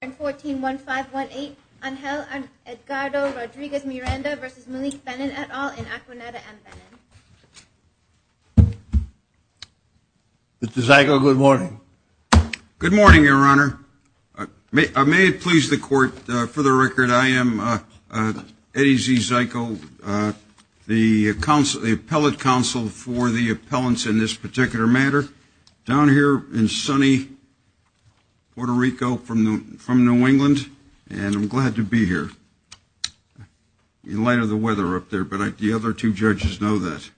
141518, Angel Edgardo Rodriguez-Miranda v. Malik Benin et al. in Aquaneta, M. Benin. Mr. Zyko, good morning. Good morning, Your Honor. May it please the Court, for the record, I am Eddie Z. Zyko, the appellate counsel for the appellants in this particular matter. Down here in sunny Puerto Rico from New England, and I'm glad to be here in light of the weather up there. But the other two judges know that.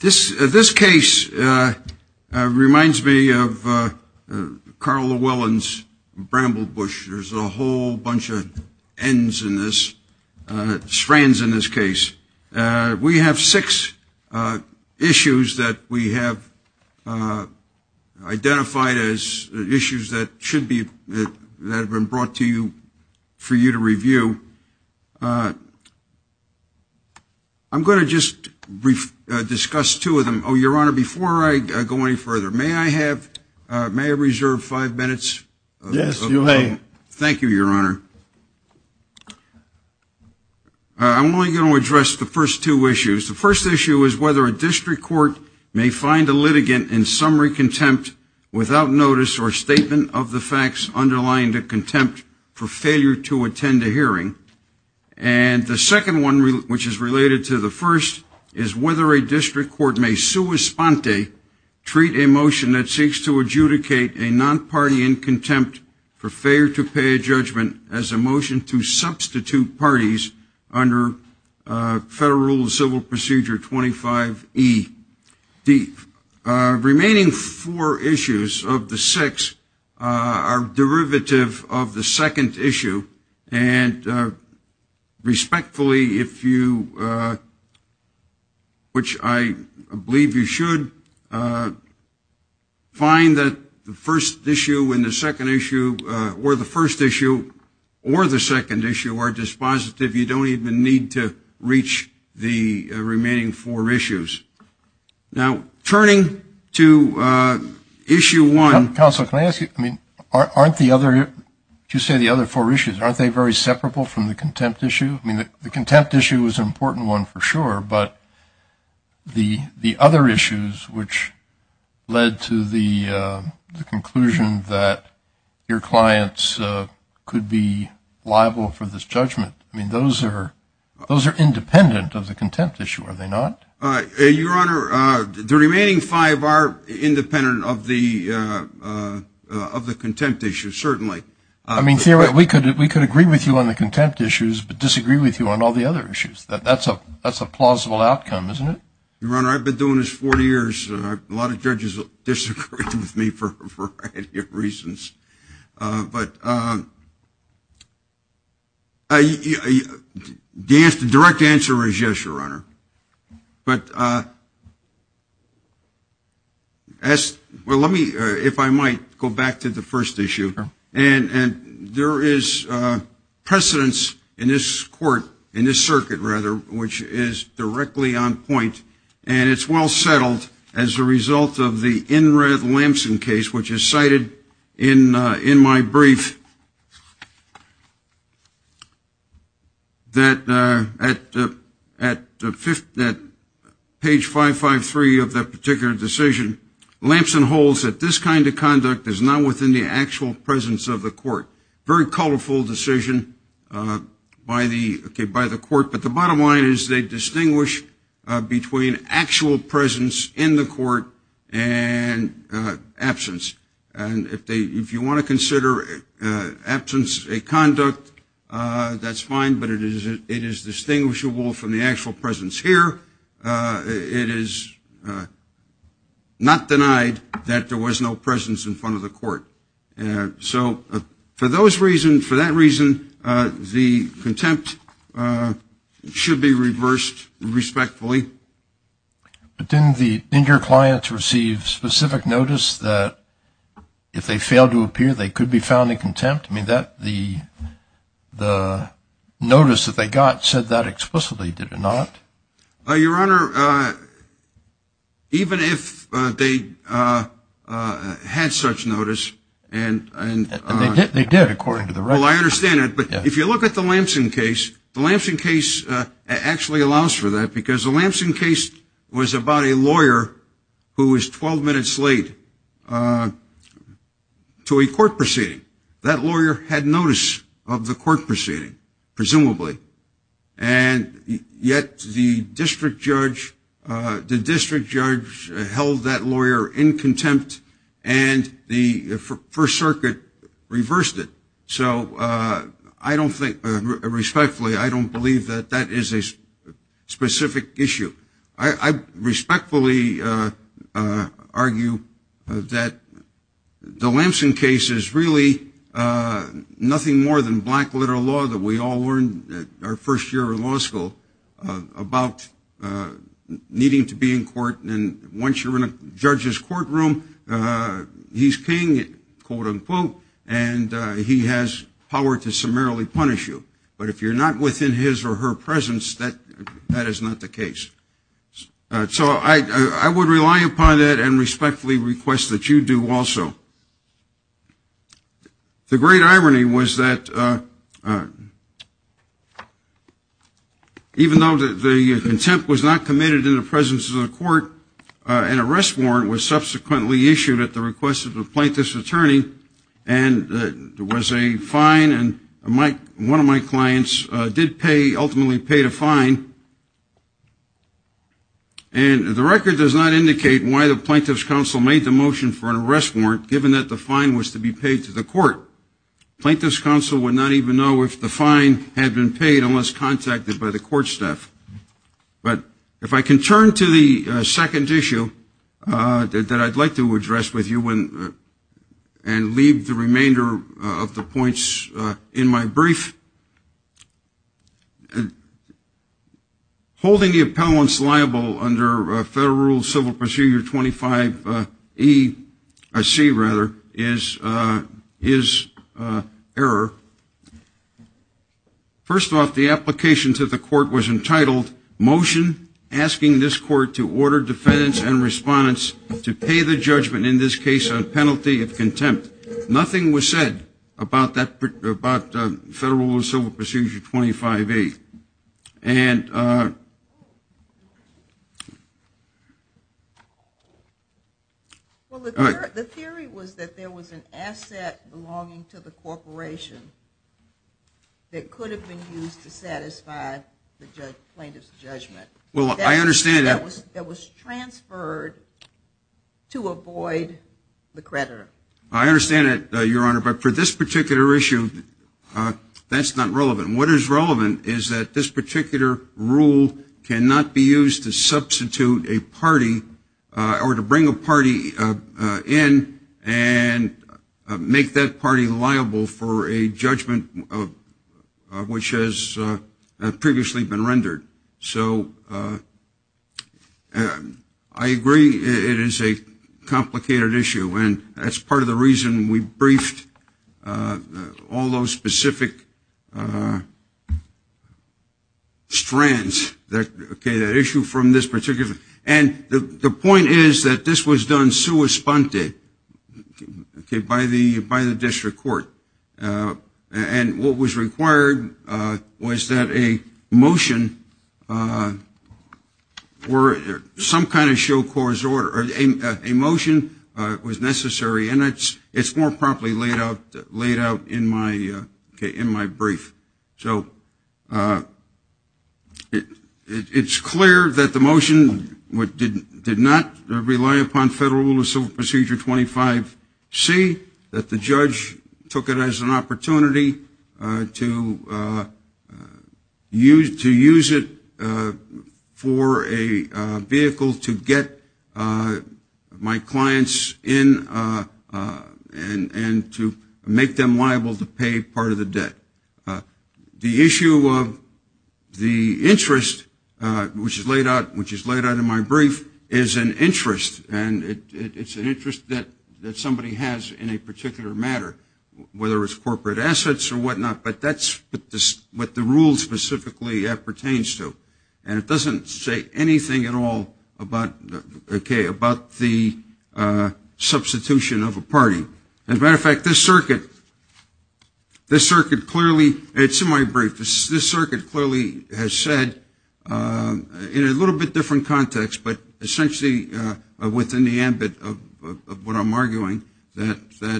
This case reminds me of Carl Llewellyn's Bramble Bush. There's a whole bunch of ends in this, strands in this case. We have six issues that we have identified as issues that should be, that have been brought to you for you to review. I'm going to just discuss two of them. Oh, Your Honor, before I go any further, may I have, may I reserve five minutes? Yes, you may. Thank you, Your Honor. I'm only going to address the first two issues. The first issue is whether a district court may find a litigant in summary contempt without notice or statement of the facts underlying the contempt for failure to attend a hearing. And the second one, which is related to the first, is whether a district court may sui sponte, treat a motion that seeks to adjudicate a non-party in contempt for failure to pay a judgment as a motion to substitute parties under Federal Rule of Civil Procedure 25E. The remaining four issues of the six are derivative of the second issue. And respectfully, if you, which I believe you should, find that the first issue and the second issue or the first issue or the second issue are dispositive. You don't even need to reach the remaining four issues. Now, turning to issue one. Counsel, can I ask you, I mean, aren't the other, you say the other four issues, aren't they very separable from the contempt issue? I mean, the contempt issue is an important one for sure, but the other issues, which led to the conclusion that your clients could be liable for this judgment, I mean, those are independent of the contempt issue, are they not? Your Honor, the remaining five are independent of the contempt issue, certainly. I mean, we could agree with you on the contempt issues but disagree with you on all the other issues. That's a plausible outcome, isn't it? Your Honor, I've been doing this 40 years. A lot of judges disagree with me for a variety of reasons. But the direct answer is yes, Your Honor. But as, well, let me, if I might, go back to the first issue. And there is precedence in this court, in this circuit, rather, which is directly on point, and it's well settled as a result of the in red Lamson case, which is cited in my brief, that at page 553 of that particular decision, Lamson holds that this kind of conduct is not within the actual presence of the court. Very colorful decision by the court. But the bottom line is they distinguish between actual presence in the court and absence. And if you want to consider absence a conduct, that's fine, but it is distinguishable from the actual presence here. It is not denied that there was no presence in front of the court. So for those reasons, for that reason, the contempt should be reversed respectfully. But didn't the injured clients receive specific notice that if they failed to appear, they could be found in contempt? I mean, the notice that they got said that explicitly, did it not? Your Honor, even if they had such notice, and they did, according to the record. Well, I understand that. But if you look at the Lamson case, the Lamson case actually allows for that, because the Lamson case was about a lawyer who was 12 minutes late to a court proceeding. That lawyer had notice of the court proceeding, presumably. And yet the district judge held that lawyer in contempt, and the First Circuit reversed it. So I don't think, respectfully, I don't believe that that is a specific issue. I respectfully argue that the Lamson case is really nothing more than black literal law that we all learned our first year of law school about needing to be in court. And once you're in a judge's courtroom, he's king, quote, unquote, and he has power to summarily punish you. But if you're not within his or her presence, that is not the case. So I would rely upon that and respectfully request that you do also. The great irony was that even though the contempt was not committed in the presence of the court, an arrest warrant was subsequently issued at the request of the plaintiff's attorney, and there was a fine, and one of my clients did pay, ultimately paid a fine. And the record does not indicate why the plaintiff's counsel made the motion for an arrest warrant, given that the fine was to be paid to the court. Plaintiff's counsel would not even know if the fine had been paid unless contacted by the court staff. But if I can turn to the second issue that I'd like to address with you and leave the remainder of the points in my brief, holding the appellants liable under Federal Rule Civil Procedure 25E, C rather, is error. First off, the application to the court was entitled, Motion Asking this Court to Order Defendants and Respondents to Pay the Judgment, in this case, on Penalty of Contempt. Nothing was said about Federal Rule Civil Procedure 25E. Well, the theory was that there was an asset belonging to the corporation that could have been used to satisfy the plaintiff's judgment. Well, I understand that. That was transferred to avoid the creditor. I understand that, Your Honor, but for this particular issue, that's not relevant. What is relevant is that this particular rule cannot be used to substitute a party or to bring a party in and make that party liable for a judgment which has previously been rendered. So I agree it is a complicated issue, and that's part of the reason we briefed all those specific strands, okay, that issue from this particular. And the point is that this was done sua sponte, okay, by the district court. And what was required was that a motion or some kind of show court's order, or a motion was necessary, and it's more promptly laid out in my brief. So it's clear that the motion did not rely upon Federal Rule of Civil Procedure 25C, that the judge took it as an opportunity to use it for a vehicle to get my clients in and to make them liable to pay part of the debt. The issue of the interest, which is laid out in my brief, is an interest, and it's an interest that somebody has in a particular matter, whether it's corporate assets or whatnot, but that's what the rule specifically pertains to. And it doesn't say anything at all about the substitution of a party. As a matter of fact, this circuit clearly, it's in my brief, this circuit clearly has said in a little bit different context, but essentially within the ambit of what I'm arguing, that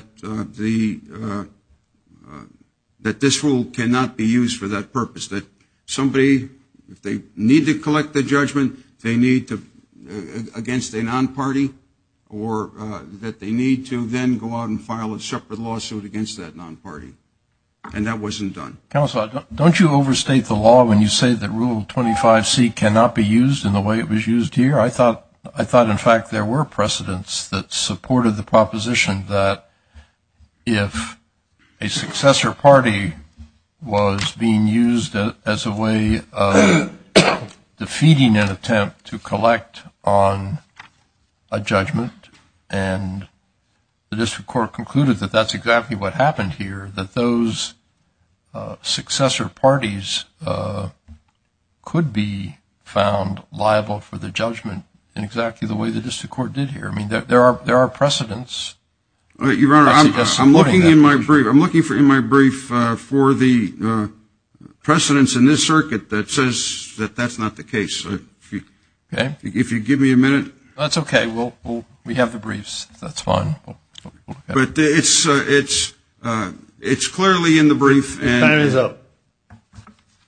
this rule cannot be used for that purpose, that somebody, if they need to collect the judgment, they need to, against a non-party, or that they need to then go out and file a separate lawsuit against that non-party. And that wasn't done. Counsel, don't you overstate the law when you say that Rule 25C cannot be used in the way it was used here? I thought, in fact, there were precedents that supported the proposition that if a successor party was being used as a way of defeating an attempt to collect on a judgment, and the district court concluded that that's exactly what happened here, that those successor parties could be found liable for the judgment in exactly the way the district court did here. I mean, there are precedents. Your Honor, I'm looking in my brief for the precedents in this circuit that says that that's not the case. Okay. If you give me a minute. That's okay. We have the briefs. That's fine. But it's clearly in the brief. Time is up.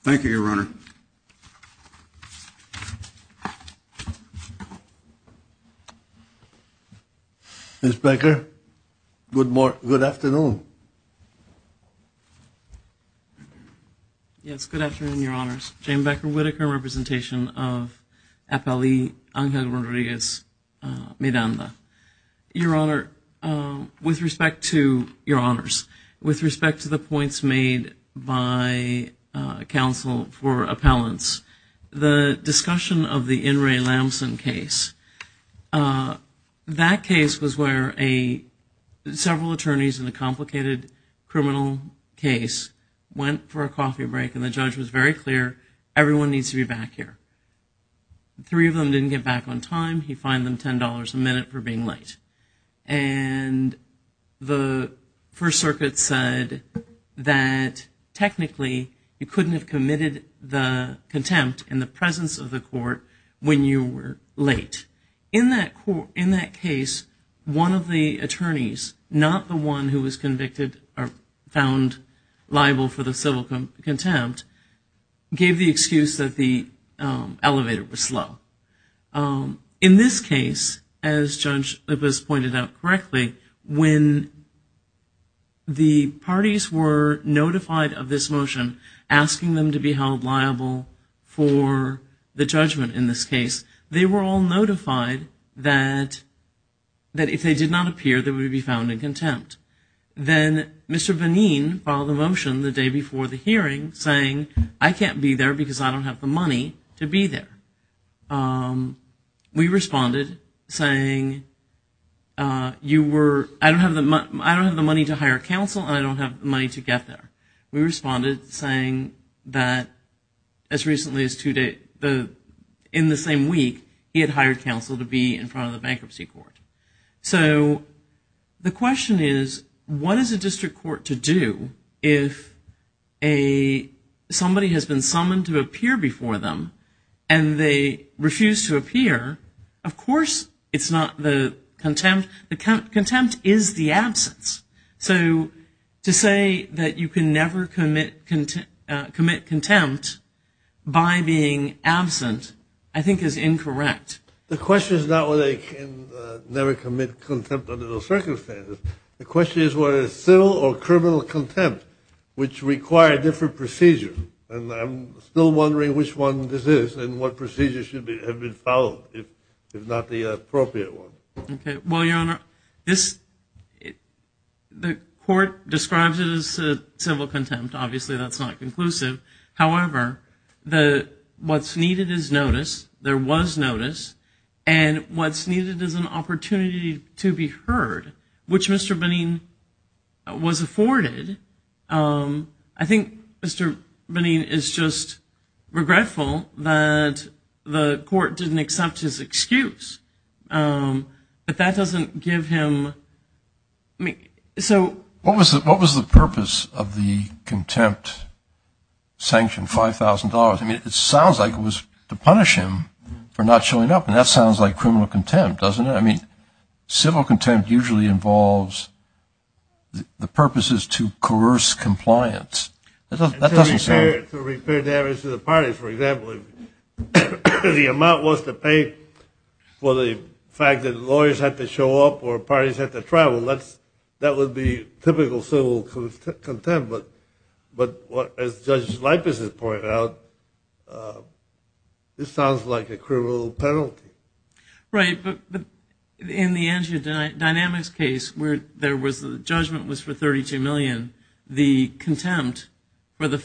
Thank you, Your Honor. Ms. Becker, good afternoon. Yes, good afternoon, Your Honors. Jane Becker Whitaker, representation of Appellee Angel Rodriguez-Miranda. Your Honor, with respect to your honors, with respect to the points made by counsel for appellants, the discussion of the In re Lamson case, that case was where several attorneys in a complicated criminal case went for a back here. Three of them didn't get back on time. He fined them $10 a minute for being late. And the First Circuit said that technically you couldn't have committed the contempt in the presence of the court when you were late. In that case, one of the attorneys, not the one who was convicted or found liable for the civil contempt, gave the excuse that the elevator was slow. In this case, as Judge Libous pointed out correctly, when the parties were notified of this motion, asking them to be held liable for the judgment in this case, they were all notified that if they did not appear, they would be found in contempt. Then Mr. Benin filed a motion the day before the hearing saying, I can't be there because I don't have the money to be there. We responded saying, I don't have the money to hire counsel and I don't have the money to get there. We responded saying that as recently as two days in the same week, he had hired counsel to be in front of the bankruptcy court. So the question is, what is a district court to do if somebody has been summoned to appear before them and they refuse to appear? Of course it's not the contempt. The contempt is the absence. So to say that you can never commit contempt by being absent I think is incorrect. The question is not whether they can never commit contempt under those circumstances. The question is whether it's civil or criminal contempt, which require different procedures. And I'm still wondering which one this is and what procedures should have been followed, if not the appropriate one. Well, Your Honor, the court describes it as civil contempt. Obviously that's not conclusive. However, what's needed is notice. There was notice. And what's needed is an opportunity to be heard, which Mr. Benin was afforded. I think Mr. Benin is just regretful that the court didn't accept his excuse. But that doesn't give him so. What was the purpose of the contempt sanction, $5,000? I mean, it sounds like it was to punish him for not showing up, and that sounds like criminal contempt, doesn't it? I mean, civil contempt usually involves the purposes to coerce compliance. That doesn't sound. To repair damage to the parties. For example, if the amount was to pay for the fact that lawyers had to show up or parties had to travel, that would be typical civil contempt. But as Judge Lipes has pointed out, this sounds like a criminal penalty. Right, but in the Angia Dynamics case, where the judgment was for $32 million, the contempt for the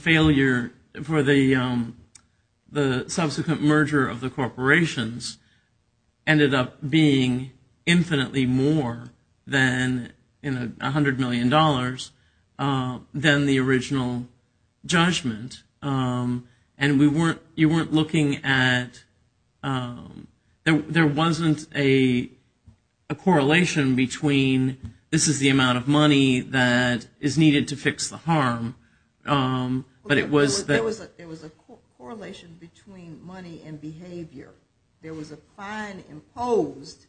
subsequent merger of the corporations ended up being infinitely more than $100 million than the original judgment. And you weren't looking at there wasn't a correlation between this is the amount of money that is needed to fix the harm. There was a correlation between money and behavior. There was a fine imposed,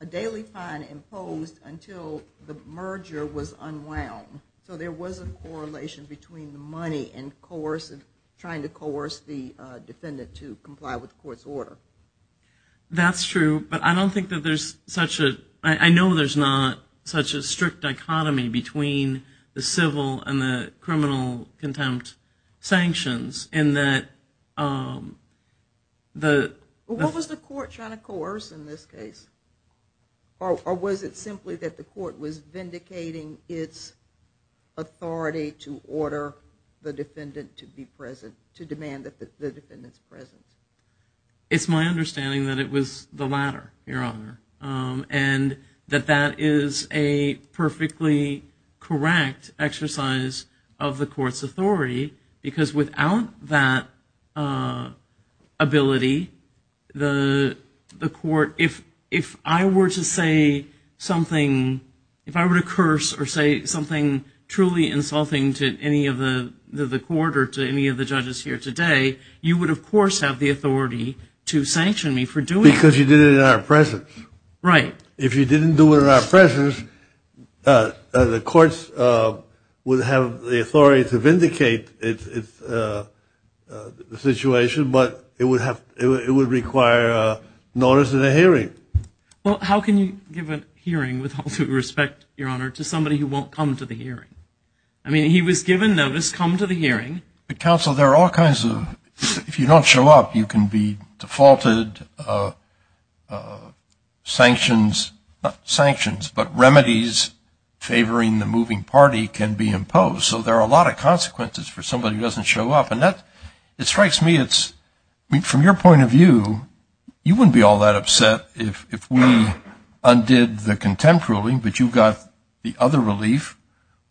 a daily fine imposed until the merger was unwound. So there was a correlation between the money and trying to coerce the defendant to comply with the court's order. That's true, but I know there's not such a strict dichotomy between the civil and the criminal contempt sanctions in that the... What was the court trying to coerce in this case? Or was it simply that the court was vindicating its authority to order the defendant to be present, to demand that the defendant's present? It's my understanding that it was the latter, Your Honor, and that that is a perfectly correct exercise of the court's authority because without that ability, the court, if I were to say something, if I were to curse or say something truly insulting to any of the court or to any of the judges here today, you would, of course, have the authority to sanction me for doing it. Because you did it in our presence. Right. If you didn't do it in our presence, the courts would have the authority to vindicate the situation, but it would require notice in a hearing. Well, how can you give a hearing with all due respect, Your Honor, to somebody who won't come to the hearing? I mean, he was given notice, come to the hearing. Counsel, there are all kinds of... sanctions, not sanctions, but remedies favoring the moving party can be imposed. So there are a lot of consequences for somebody who doesn't show up. And it strikes me, from your point of view, you wouldn't be all that upset if we undid the contempt ruling, but you got the other relief,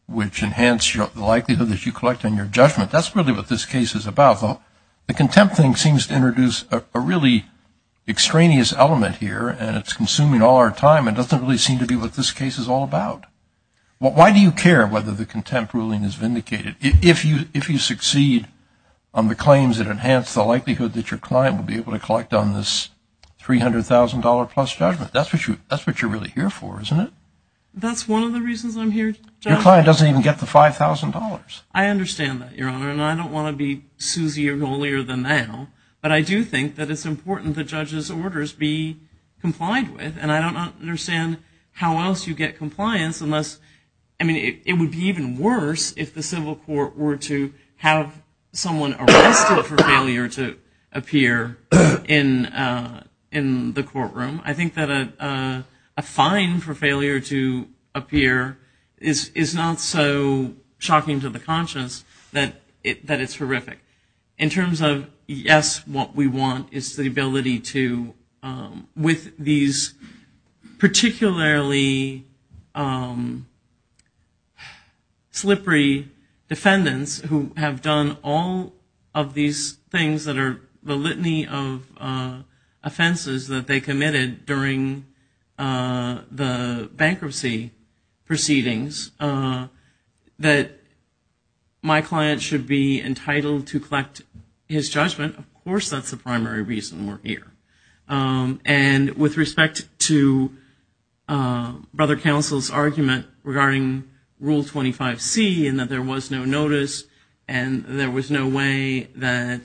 which enhanced the likelihood that you collect on your judgment. That's really what this case is about. The contempt thing seems to introduce a really extraneous element here, and it's consuming all our time. It doesn't really seem to be what this case is all about. Why do you care whether the contempt ruling is vindicated? If you succeed on the claims that enhance the likelihood that your client will be able to collect on this $300,000-plus judgment, that's what you're really here for, isn't it? That's one of the reasons I'm here. Your client doesn't even get the $5,000. I understand that, Your Honor. And I don't want to be Suzy or Golier than now, but I do think that it's important that judges' orders be complied with. And I don't understand how else you get compliance unless, I mean, it would be even worse if the civil court were to have someone arrested for failure to appear in the courtroom. I think that a fine for failure to appear is not so shocking to the public that it's horrific. In terms of, yes, what we want is the ability to, with these particularly slippery defendants who have done all of these things that are the litany of offenses that they committed during the trial, to be entitled to collect his judgment. Of course that's the primary reason we're here. And with respect to Brother Counsel's argument regarding Rule 25C and that there was no notice and there was no way that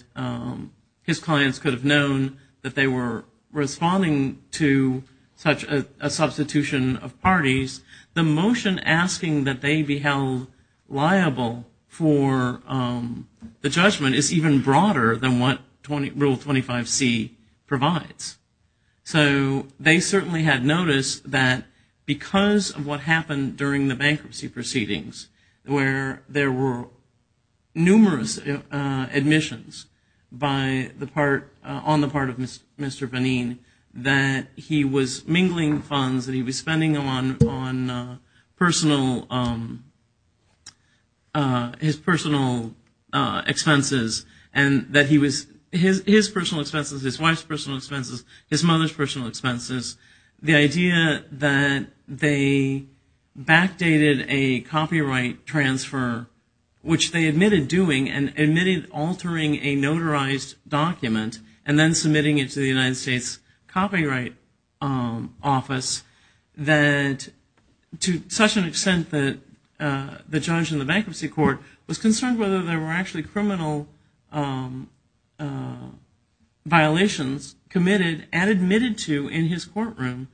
his clients could have known that they were responding to such a substitution of parties, the motion asking that they be held liable for the judgment is even broader than what Rule 25C provides. So they certainly had noticed that because of what happened during the bankruptcy proceedings where there were numerous admissions on the part of his personal expenses, his wife's personal expenses, his mother's personal expenses, the idea that they backdated a copyright transfer, which they admitted doing and admitted altering a notarized document and then submitting it to the United States Copyright Office, that to such an extent that the judge in the bankruptcy court was concerned whether there were actually criminal violations committed and admitted to in his courtroom.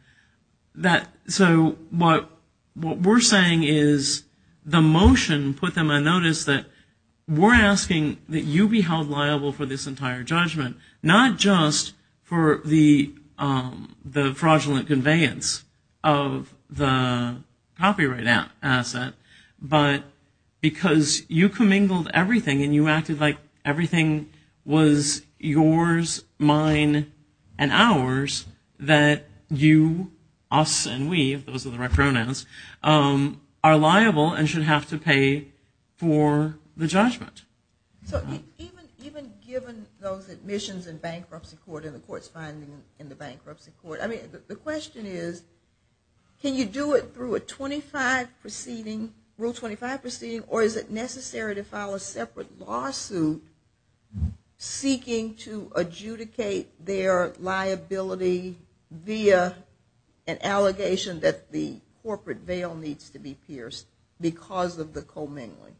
So what we're saying is the motion put them on notice that we're asking that you be held liable for this entire judgment, not just for the fraudulent conveyance of the copyright asset, but because you commingled everything and you acted like everything was yours, mine, and ours, that you, us, and we, if those are the right pronouns, are liable and should have to pay for the judgment. So even given those admissions in bankruptcy court and the court's finding in the bankruptcy court, I mean, the question is can you do it through a 25 proceeding, Rule 25 proceeding or is it necessary to file a separate lawsuit seeking to adjudicate their liability via an allegation that the corporate veil needs to be pierced because of the commingling?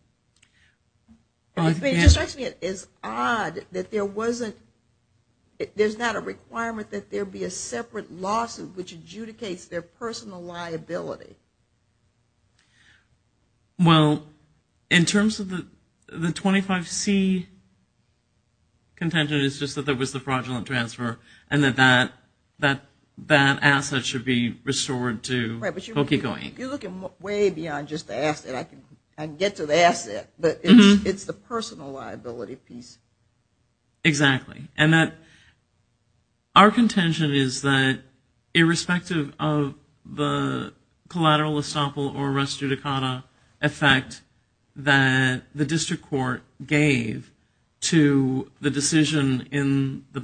It's odd that there wasn't, there's not a requirement that there be a separate lawsuit which adjudicates their personal liability. Well, in terms of the 25C contention, it's just that there was the fraudulent transfer and that that asset should be restored to Hokey Co. Inc. You're looking way beyond just the asset. I can get to the asset, but it's the personal liability piece. Exactly. And that our contention is that irrespective of the collateral estoppel or restudicata effect that the district court gave to the decision in the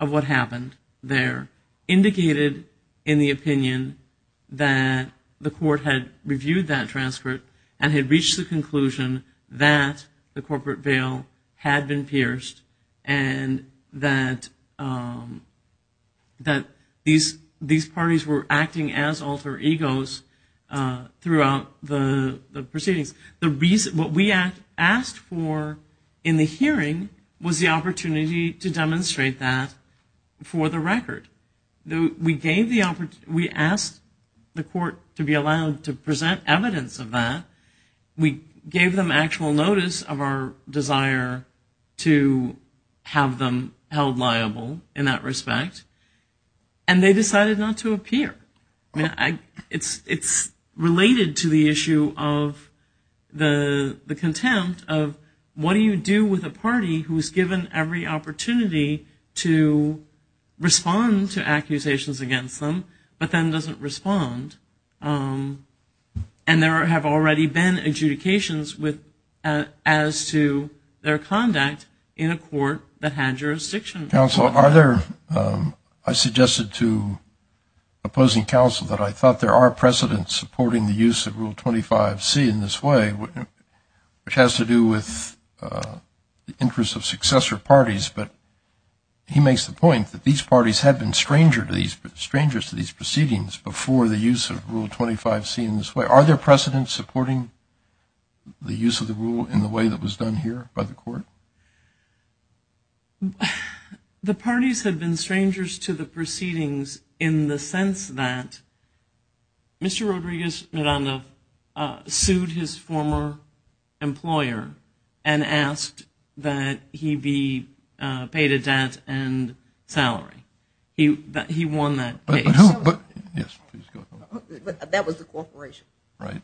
of what happened there indicated in the opinion that the court had reviewed that transcript and had reached the conclusion that the corporate veil had been pierced and that these parties were acting as alter egos throughout the proceedings. What we asked for in the hearing was the opportunity to demonstrate that for the record. We asked the court to be allowed to present evidence of that. We gave them actual notice of our desire to have them held liable in that respect, and they decided not to appear. It's related to the issue of the contempt of what do you do with a party who's given every opportunity to respond to accusations against them but then doesn't respond. And there have already been adjudications as to their conduct in a court that had jurisdiction. Counsel, I suggested to opposing counsel that I thought there are precedents supporting the use of Rule 25C in this way, which has to do with the interest of successor parties. But he makes the point that these parties had been strangers to these proceedings before the use of Rule 25C in this way. Are there precedents supporting the use of the rule in the way that was done here by the court? The parties had been strangers to the proceedings in the sense that Mr. Rodriguez-Miranda sued his former employer and asked that he be paid a debt and salary. He won that case. But that was the corporation. Right.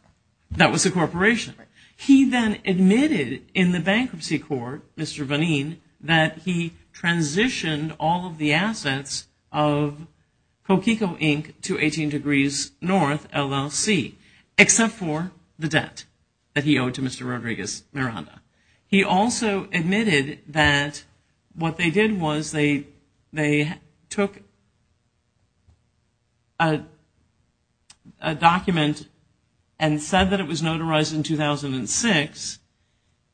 That was the corporation. He then admitted in the bankruptcy court, Mr. Vaneen, that he transitioned all of the assets of Coquico Inc. to 18 Degrees North, LLC, except for the debt that he owed to Mr. Rodriguez-Miranda. He also admitted that what they did was they took a document and said that it was notarized in 2006,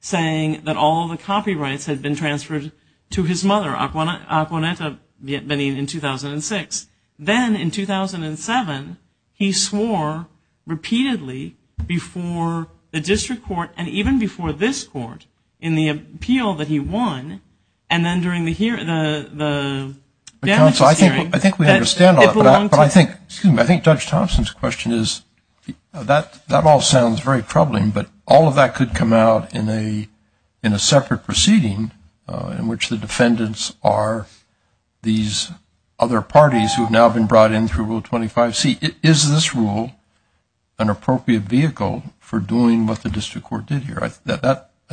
saying that all of the copyrights had been transferred to his mother, Aquanetta Vaneen, in 2006. Then in 2007, he swore repeatedly before the district court and even before this court in the appeal that he won. And then during the hearing, the damages hearing. I think we understand all that. I think Judge Thompson's question is that all sounds very troubling, but all of that could come out in a separate proceeding in which the defendants are these other parties who have now been brought in through Rule 25C. Is this rule an appropriate vehicle for doing what the district court did here? I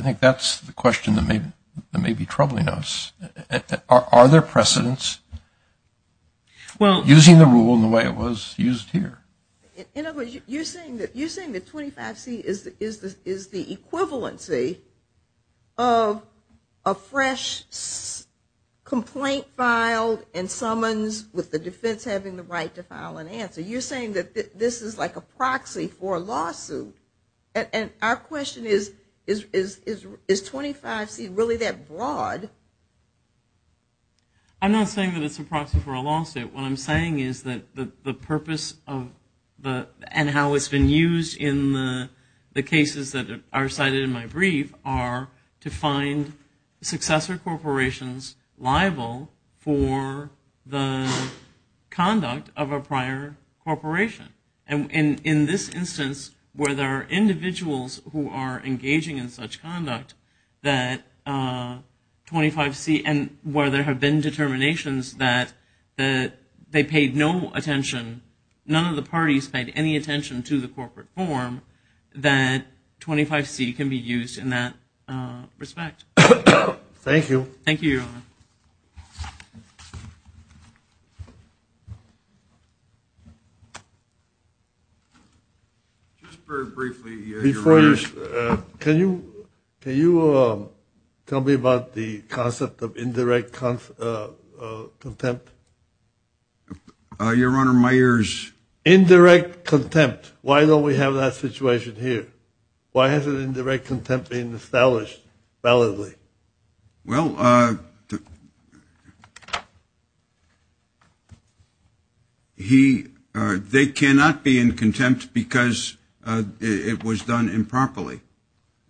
think that's the question that may be troubling us. Are there precedents using the rule in the way it was used here? You're saying that 25C is the equivalency of a fresh complaint filed and summons with the defense having the right to file an answer. You're saying that this is like a proxy for a lawsuit. Our question is, is 25C really that broad? I'm not saying that it's a proxy for a lawsuit. What I'm saying is that the purpose and how it's been used in the cases that are cited in my brief are to find successor corporations liable for the conduct of a prior corporation. In this instance, where there are individuals who are engaging in such conduct, and where there have been determinations that they paid no attention, none of the parties paid any attention to the corporate form, that 25C can be used in that respect. Thank you. Thank you, Your Honor. Just very briefly, Your Honor. Can you tell me about the concept of indirect contempt? Your Honor, my ears. Indirect contempt. Why don't we have that situation here? Why isn't indirect contempt being established validly? Well, they cannot be in contempt because it was done improperly.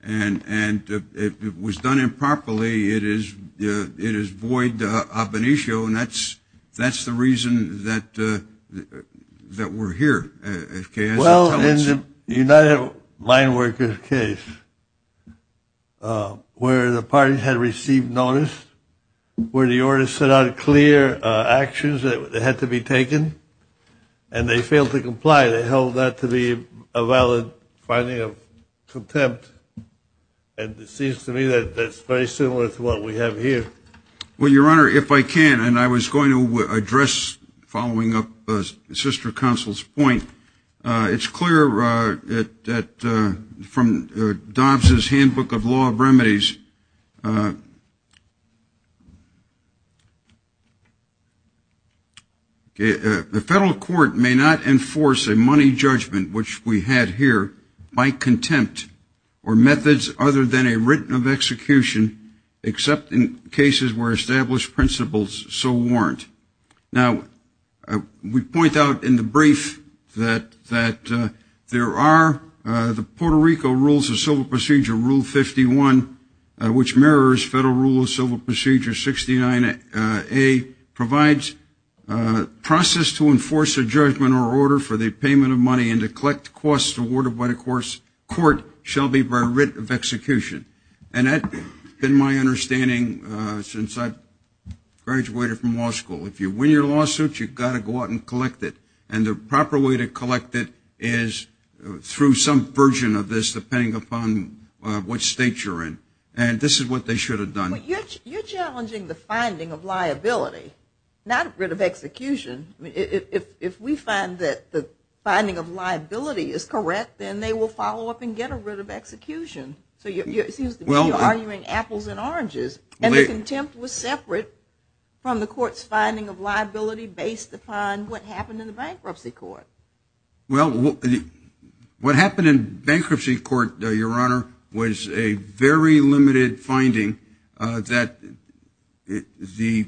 And if it was done improperly, it is void of an issue, and that's the reason that we're here. Well, in the United Mine Workers case, where the parties had received notice, where the order set out clear actions that had to be taken, and they failed to comply, they held that to be a valid finding of contempt. And it seems to me that that's very similar to what we have here. Well, Your Honor, if I can, and I was going to address following up on Sister Counsel's point, it's clear from Dobbs' Handbook of Law of Remedies, the federal court may not enforce a money judgment, which we had here, by contempt or methods other than a written of execution, except in cases where established principles so warrant. Now, we point out in the brief that there are the Puerto Rico Rules of Civil Procedure, Rule 51, which mirrors Federal Rule of Civil Procedure 69A, provides process to enforce a judgment or order for the payment of money and to collect costs awarded by the court shall be by writ of execution. And that's been my understanding since I graduated from law school. If you win your lawsuit, you've got to go out and collect it. And the proper way to collect it is through some version of this, depending upon what state you're in. And this is what they should have done. But you're challenging the finding of liability, not writ of execution. If we find that the finding of liability is correct, then they will follow up and get a writ of execution. So it seems to me you're arguing apples and oranges. And the contempt was separate from the court's finding of liability based upon what happened in the bankruptcy court. Well, what happened in bankruptcy court, Your Honor, was a very limited finding that the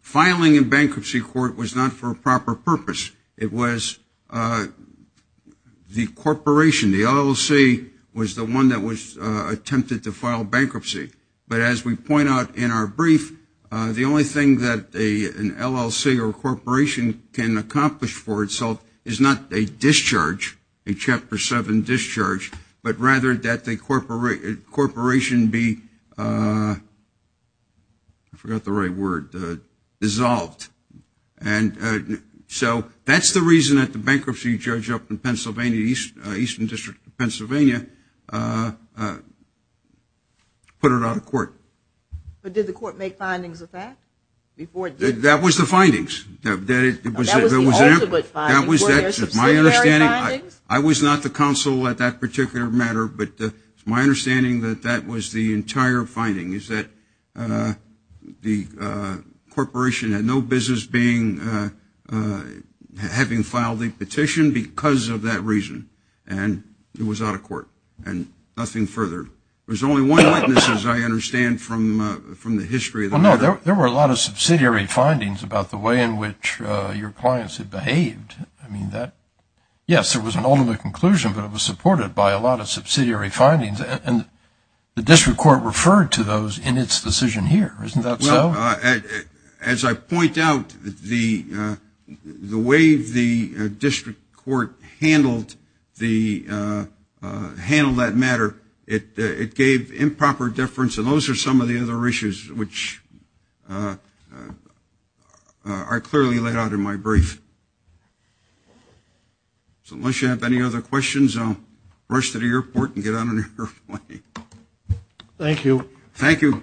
filing in bankruptcy court was not for a proper purpose. It was the corporation, the LLC, was the one that attempted to file bankruptcy. But as we point out in our brief, the only thing that an LLC or corporation can accomplish for itself is not a discharge, a Chapter 7 discharge, but rather that the corporation be, I forgot the right word, dissolved. And so that's the reason that the bankruptcy judge up in Pennsylvania, Eastern District of Pennsylvania, put it out of court. But did the court make findings of that? That was the findings. That was the ultimate finding. Were there subsidiary findings? I was not the counsel at that particular matter, but my understanding that that was the entire finding, is that the corporation had no business having filed the petition because of that reason. And it was out of court and nothing further. There's only one witness, as I understand from the history. Well, no, there were a lot of subsidiary findings about the way in which your clients had behaved. I mean, yes, there was an ultimate conclusion, but it was supported by a lot of subsidiary findings. And the district court referred to those in its decision here. Isn't that so? As I point out, the way the district court handled that matter, it gave improper deference. And those are some of the other issues which are clearly laid out in my brief. So unless you have any other questions, I'll rush to the airport and get on an airplane. Thank you. Thank you.